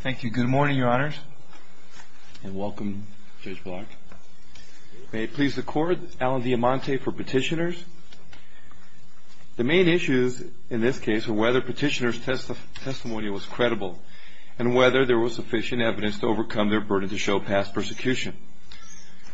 Thank you. Good morning, Your Honors, and welcome, Judge Block. May it please the Court, Alan Diamante for Petitioners. The main issues in this case are whether Petitioner's testimony was credible and whether there was sufficient evidence to overcome their burden to show past persecution.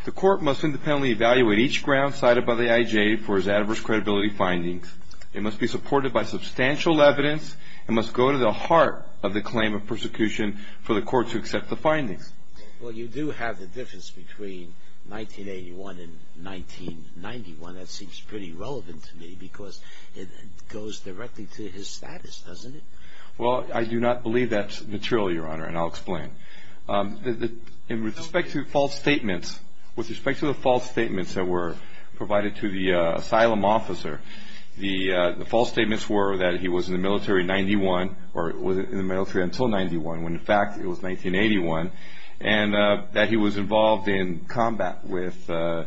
The Court must independently evaluate each ground cited by the IJ for its adverse credibility findings. It must be supported by substantial evidence and must go to the heart of the claim of persecution for the Court to accept the findings. Well, you do have the difference between 1981 and 1991. That seems pretty relevant to me because it goes directly to his status, doesn't it? Well, I do not believe that's material, Your Honor, and I'll explain. With respect to the false statements that were provided to the asylum officer, the false statements were that he was in the military until 1991, when in fact it was 1981, and that he was involved in combat with the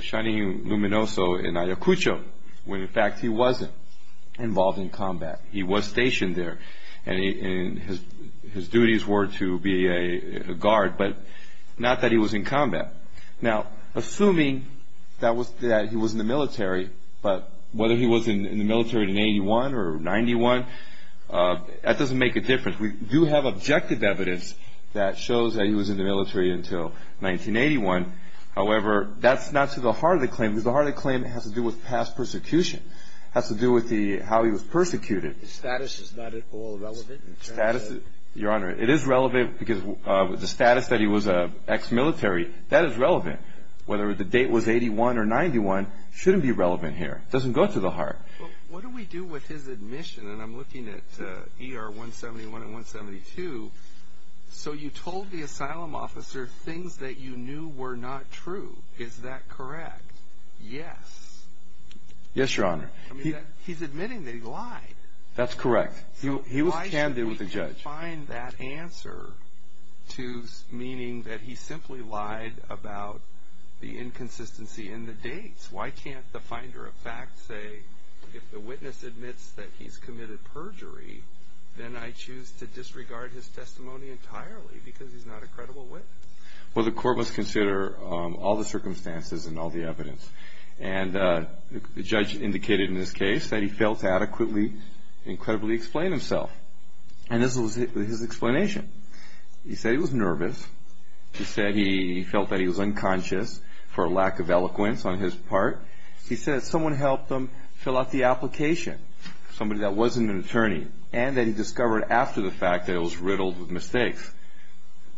Shining Luminoso in Ayacucho, when in fact he wasn't involved in combat. He was stationed there, and his duties were to be a guard, but not that he was in combat. Now, assuming that he was in the military, but whether he was in the military in 1981 or 1991, that doesn't make a difference. We do have objective evidence that shows that he was in the military until 1981. However, that's not to the heart of the claim because the heart of the claim has to do with past persecution, has to do with how he was persecuted. His status is not at all relevant? Your Honor, it is relevant because the status that he was ex-military, that is relevant. Whether the date was 81 or 91 shouldn't be relevant here. It doesn't go to the heart. What do we do with his admission? And I'm looking at ER 171 and 172. So you told the asylum officer things that you knew were not true. Is that correct? Yes. Yes, Your Honor. He's admitting that he lied. That's correct. He was candid with the judge. Why should we find that answer to meaning that he simply lied about the inconsistency in the dates? Why can't the finder of fact say, if the witness admits that he's committed perjury, then I choose to disregard his testimony entirely because he's not a credible witness? Well, the court must consider all the circumstances and all the evidence. And the judge indicated in this case that he failed to adequately and credibly explain himself. And this was his explanation. He said he was nervous. He said he felt that he was unconscious for a lack of eloquence on his part. He said someone helped him fill out the application, somebody that wasn't an attorney, and that he discovered after the fact that it was riddled with mistakes.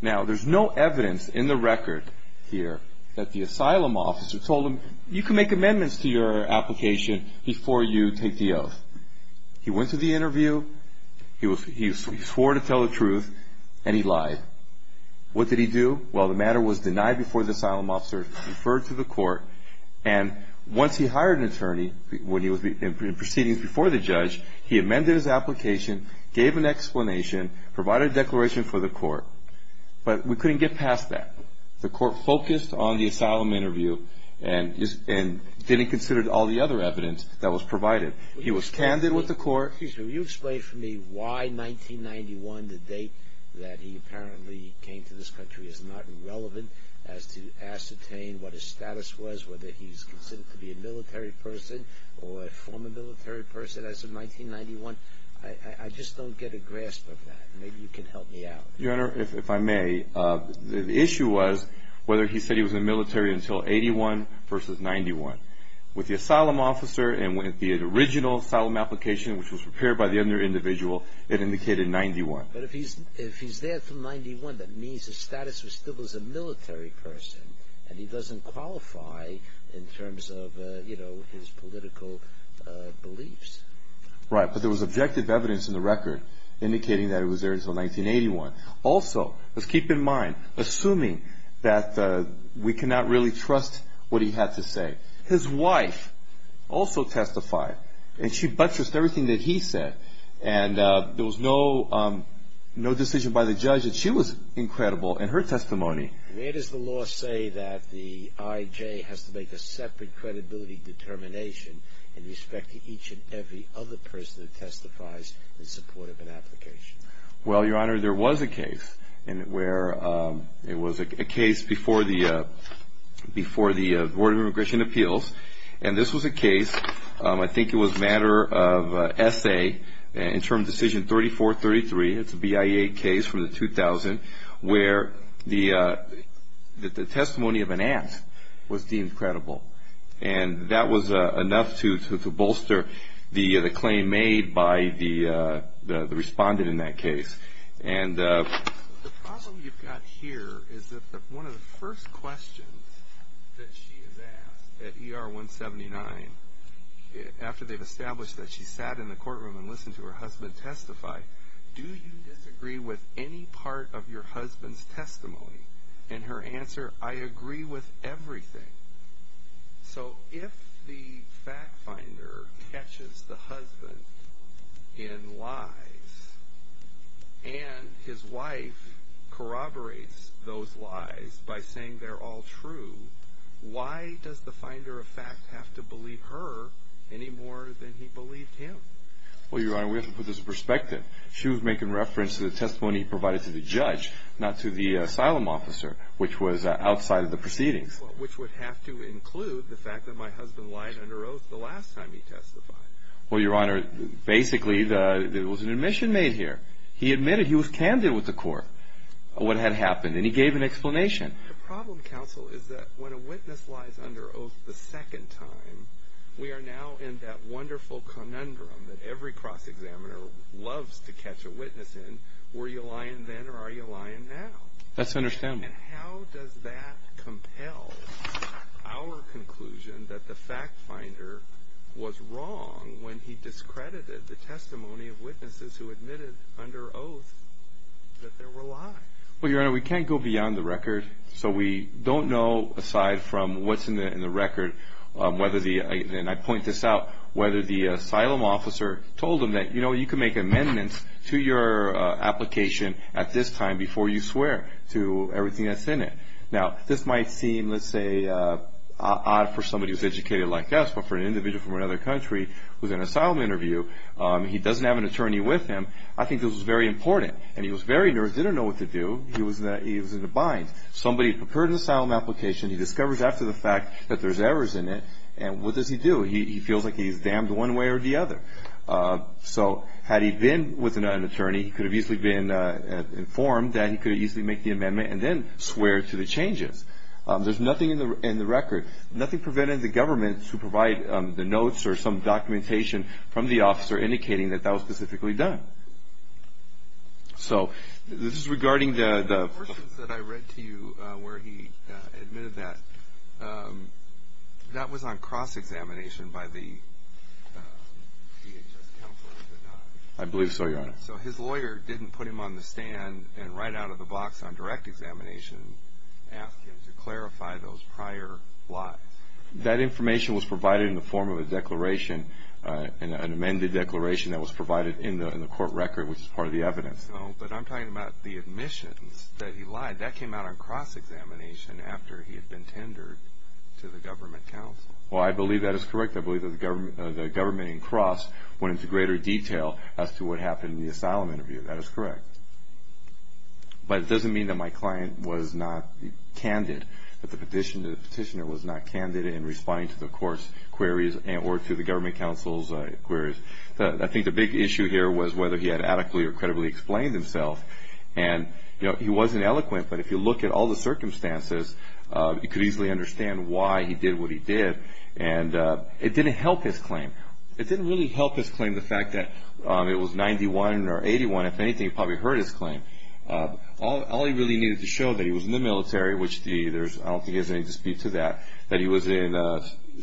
Now, there's no evidence in the record here that the asylum officer told him, you can make amendments to your application before you take the oath. He went to the interview. He swore to tell the truth, and he lied. What did he do? Well, the matter was denied before the asylum officer, referred to the court, and once he hired an attorney in proceedings before the judge, he amended his application, gave an explanation, provided a declaration for the court. But we couldn't get past that. The court focused on the asylum interview and didn't consider all the other evidence that was provided. He was candid with the court. Excuse me. Will you explain for me why 1991, the date that he apparently came to this country, is not relevant as to ascertain what his status was, whether he's considered to be a military person or a former military person as of 1991? I just don't get a grasp of that. Maybe you can help me out. Your Honor, if I may, the issue was whether he said he was in the military until 81 versus 91. With the asylum officer and with the original asylum application, which was prepared by the other individual, it indicated 91. But if he's there from 91, that means his status was still as a military person, and he doesn't qualify in terms of, you know, his political beliefs. Right. But there was objective evidence in the record indicating that he was there until 1981. Also, let's keep in mind, assuming that we cannot really trust what he had to say, his wife also testified, and she buttressed everything that he said. And there was no decision by the judge that she was incredible in her testimony. Where does the law say that the I.J. has to make a separate credibility determination in respect to each and every other person who testifies in support of an application? Well, Your Honor, there was a case where it was a case before the Board of Immigration Appeals, and this was a case, I think it was a matter of S.A., in term decision 3433, it's a BIA case from the 2000, where the testimony of an aunt was deemed credible. And that was enough to bolster the claim made by the respondent in that case. And the problem you've got here is that one of the first questions that she has asked at ER 179, after they've established that she sat in the courtroom and listened to her husband testify, do you disagree with any part of your husband's testimony? And her answer, I agree with everything. So if the fact finder catches the husband in lies, and his wife corroborates those lies by saying they're all true, why does the finder of fact have to believe her any more than he believed him? Well, Your Honor, we have to put this in perspective. She was making reference to the testimony provided to the judge, not to the asylum officer, which was outside of the proceedings. Which would have to include the fact that my husband lied under oath the last time he testified. Well, Your Honor, basically there was an admission made here. He admitted he was candid with the court, what had happened, and he gave an explanation. The problem, counsel, is that when a witness lies under oath the second time, we are now in that wonderful conundrum that every cross-examiner loves to catch a witness in, were you lying then or are you lying now? That's understandable. And how does that compel our conclusion that the fact finder was wrong when he discredited the testimony of witnesses who admitted under oath that there were lies? Well, Your Honor, we can't go beyond the record. So we don't know, aside from what's in the record, whether the, and I point this out, whether the asylum officer told him that, you know, you can make amendments to your application at this time before you swear to everything that's in it. Now, this might seem, let's say, odd for somebody who's educated like us, but for an individual from another country who's in an asylum interview, he doesn't have an attorney with him, I think this was very important. And he was very nervous, didn't know what to do. He was in a bind. Somebody prepared an asylum application, he discovers after the fact that there's errors in it, and what does he do? He feels like he's damned one way or the other. So had he been with an attorney, he could have easily been informed that he could have easily made the amendment and then swore to the changes. There's nothing in the record, nothing prevented the government to provide the notes or some documentation from the officer indicating that that was specifically done. So this is regarding the... The portions that I read to you where he admitted that, that was on cross-examination by the DHS counselor, was it not? I believe so, Your Honor. So his lawyer didn't put him on the stand and right out of the box on direct examination ask him to clarify those prior blots. That information was provided in the form of a declaration, an amended declaration that was provided in the court record, which is part of the evidence. No, but I'm talking about the admissions that he lied. That came out on cross-examination after he had been tendered to the government counsel. Well, I believe that is correct. I believe that the government in cross went into greater detail as to what happened in the asylum interview. That is correct. But it doesn't mean that my client was not candid, that the petitioner was not candid in responding to the court's queries or to the government counsel's queries. I think the big issue here was whether he had adequately or credibly explained himself. And he wasn't eloquent, but if you look at all the circumstances, you could easily understand why he did what he did. And it didn't help his claim. It didn't really help his claim the fact that it was 91 or 81. If anything, he probably heard his claim. All he really needed to show that he was in the military, which I don't think there's any dispute to that, that he was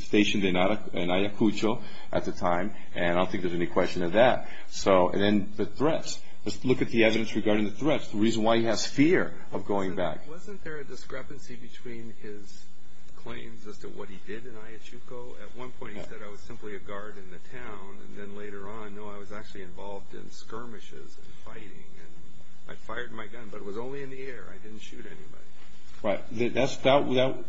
stationed in Ayacucho at the time, and I don't think there's any question of that. And then the threats. Let's look at the evidence regarding the threats, the reason why he has fear of going back. Wasn't there a discrepancy between his claims as to what he did in Ayacucho? At one point he said, I was simply a guard in the town, and then later on, no, I was actually involved in skirmishes and fighting. And I fired my gun, but it was only in the air. I didn't shoot anybody. Right.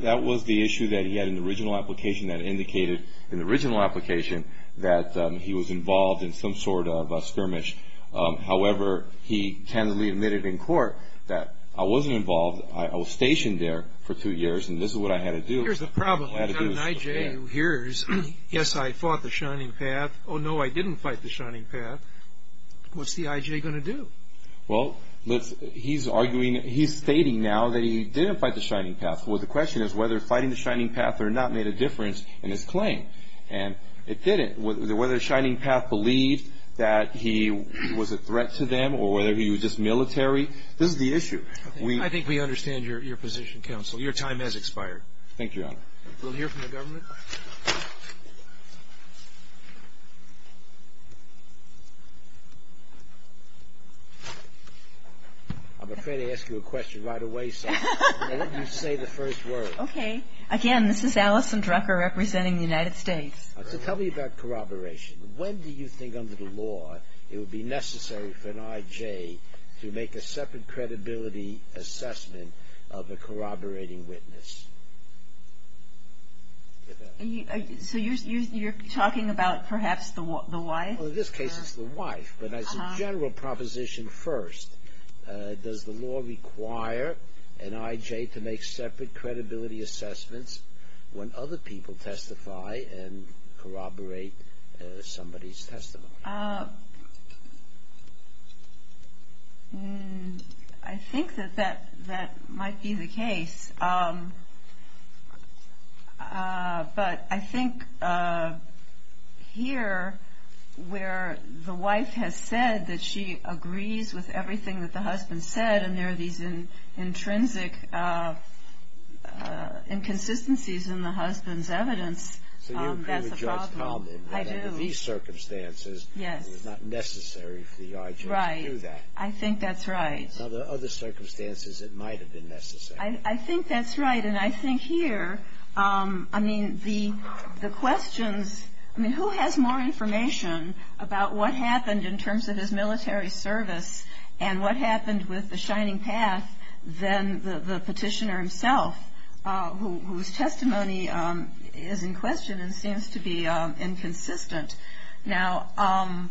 That was the issue that he had in the original application that indicated in the original application that he was involved in some sort of a skirmish. However, he candidly admitted in court that I wasn't involved. I was stationed there for two years, and this is what I had to do. Here's the problem. When you have an I.J. who hears, yes, I fought the Shining Path, oh, no, I didn't fight the Shining Path, what's the I.J. going to do? Well, he's stating now that he didn't fight the Shining Path. Well, the question is whether fighting the Shining Path or not made a difference in his claim. And it didn't, whether the Shining Path believed that he was a threat to them or whether he was just military. This is the issue. I think we understand your position, counsel. Your time has expired. Thank you, Your Honor. We'll hear from the government. I'm afraid to ask you a question right away, so I'll let you say the first word. Okay. Again, this is Allison Drucker representing the United States. So tell me about corroboration. When do you think under the law it would be necessary for an I.J. to make a separate credibility assessment of a corroborating witness? So you're talking about perhaps the wife? Well, in this case it's the wife, but as a general proposition first, does the law require an I.J. to make separate credibility assessments when other people testify and corroborate somebody's testimony? I think that that might be the case. But I think here where the wife has said that she agrees with everything that the husband said and there are these intrinsic inconsistencies in the husband's evidence, that's the problem. So you agree with Judge Comden that under these circumstances it was not necessary for the I.J. to do that. Right. I think that's right. Now, there are other circumstances it might have been necessary. I think that's right. And I think here, I mean, the questions, I mean, who has more information about what happened in terms of his military service and what happened with the Shining Path than the petitioner himself, whose testimony is in question and seems to be inconsistent. Now,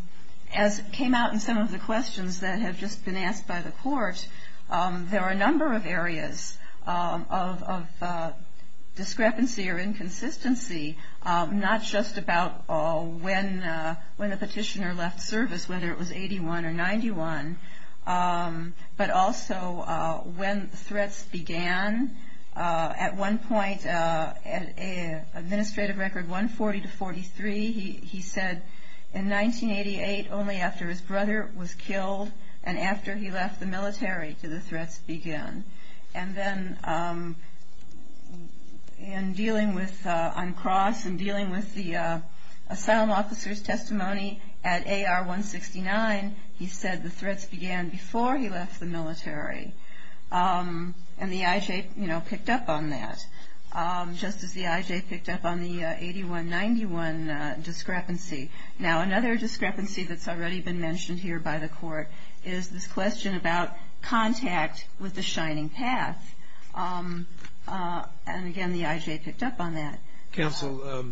as came out in some of the questions that have just been asked by the court, there are a number of areas of discrepancy or inconsistency, not just about when the petitioner left service, whether it was 81 or 91, but also when threats began. At one point, Administrative Record 140-43, he said in 1988, only after his brother was killed and after he left the military did the threats begin. And then in dealing with, on cross and dealing with the asylum officer's testimony at AR-169, he said the threats began before he left the military. And the I.J. picked up on that, just as the I.J. picked up on the 81-91 discrepancy. Now, another discrepancy that's already been mentioned here by the court is this question about contact with the Shining Path. And again, the I.J. picked up on that. Counsel,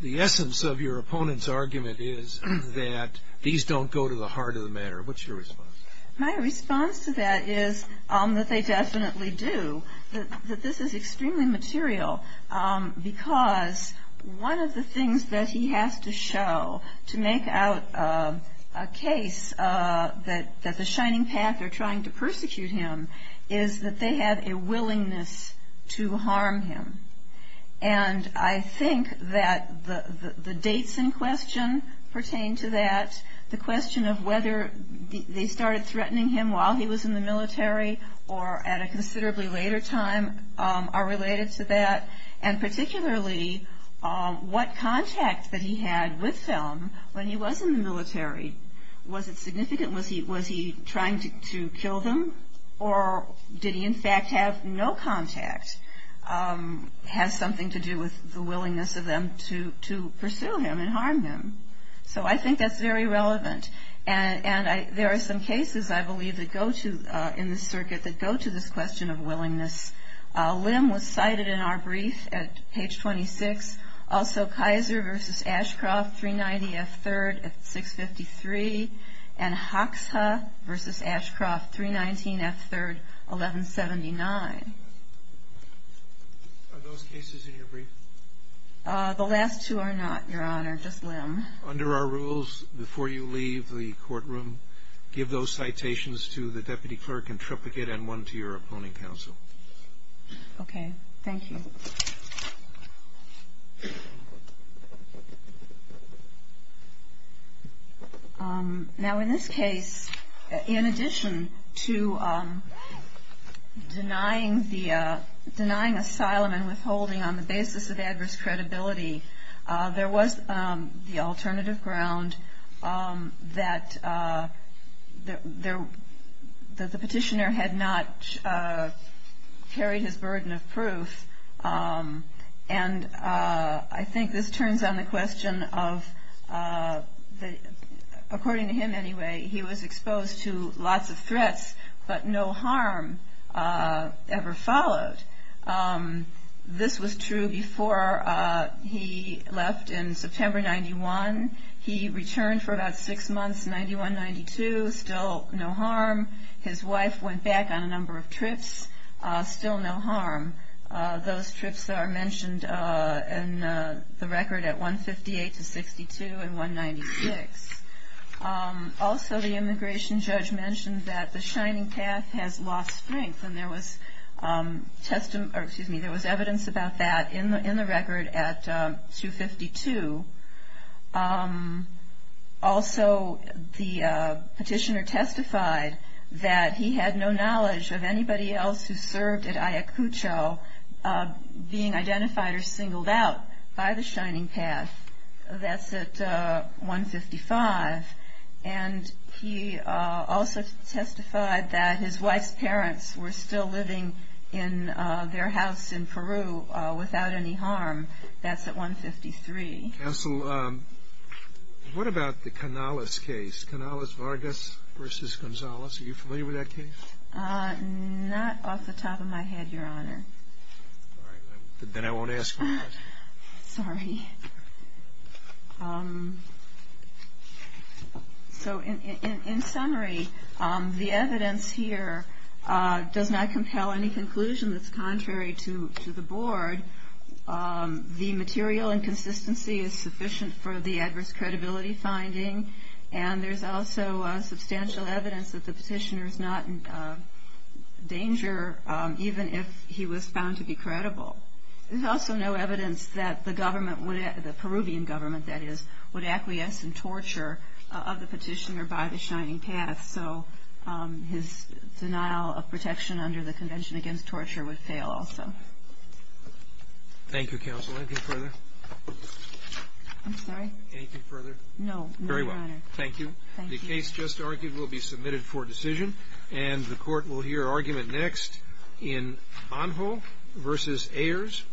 the essence of your opponent's argument is that these don't go to the heart of the matter. What's your response? My response to that is that they definitely do, that this is extremely material, because one of the things that he has to show to make out a case that the Shining Path are trying to persecute him, is that they have a willingness to harm him. And I think that the dates in question pertain to that. The question of whether they started threatening him while he was in the military and particularly what contact that he had with them when he was in the military, was it significant, was he trying to kill them, or did he in fact have no contact, has something to do with the willingness of them to pursue him and harm him. So I think that's very relevant. And there are some cases, I believe, in this circuit that go to this question of willingness. Lim was cited in our brief at page 26. Also Kaiser v. Ashcroft, 390 F. 3rd at 653, and Hoxha v. Ashcroft, 319 F. 3rd, 1179. Are those cases in your brief? The last two are not, Your Honor, just Lim. Under our rules, before you leave the courtroom, give those citations to the deputy clerk and triplicate and one to your opponent counsel. Okay, thank you. Now in this case, in addition to denying asylum and withholding on the basis of the fact that he was in the military, on the basis of adverse credibility, there was the alternative ground that the petitioner had not carried his burden of proof. And I think this turns on the question of, according to him anyway, he was exposed to lots of threats, but no harm ever followed. This was true before he left in September 91. He returned for about six months, 91-92, still no harm. His wife went back on a number of trips, still no harm. Those trips are mentioned in the record at 158-62 and 196. Also, the immigration judge mentioned that the Shining Path has lost strength, and there was evidence about that in the record at 252. Also, the petitioner testified that he had no knowledge of anybody else who served at Ayacucho being identified or singled out by the Shining Path. That's at 155. And he also testified that his wife's parents were still living in their house in Peru without any harm. That's at 153. Counsel, what about the Canales case, Canales-Vargas v. Gonzalez? Are you familiar with that case? Not off the top of my head, Your Honor. Sorry. In summary, the evidence here does not compel any conclusion that's contrary to the Board. The material inconsistency is sufficient for the adverse credibility finding. And there's also substantial evidence that the petitioner is not in danger, even if he was found to be credible. There's also no evidence that the government, the Peruvian government, that is, would acquiesce in torture of the petitioner by the Shining Path. So his denial of protection under the Convention Against Torture would fail also. Thank you, Counsel. Anything further? No, Your Honor. Thank you. The case just argued will be submitted for decision. And the Court will hear argument next in Anho v. Ayers.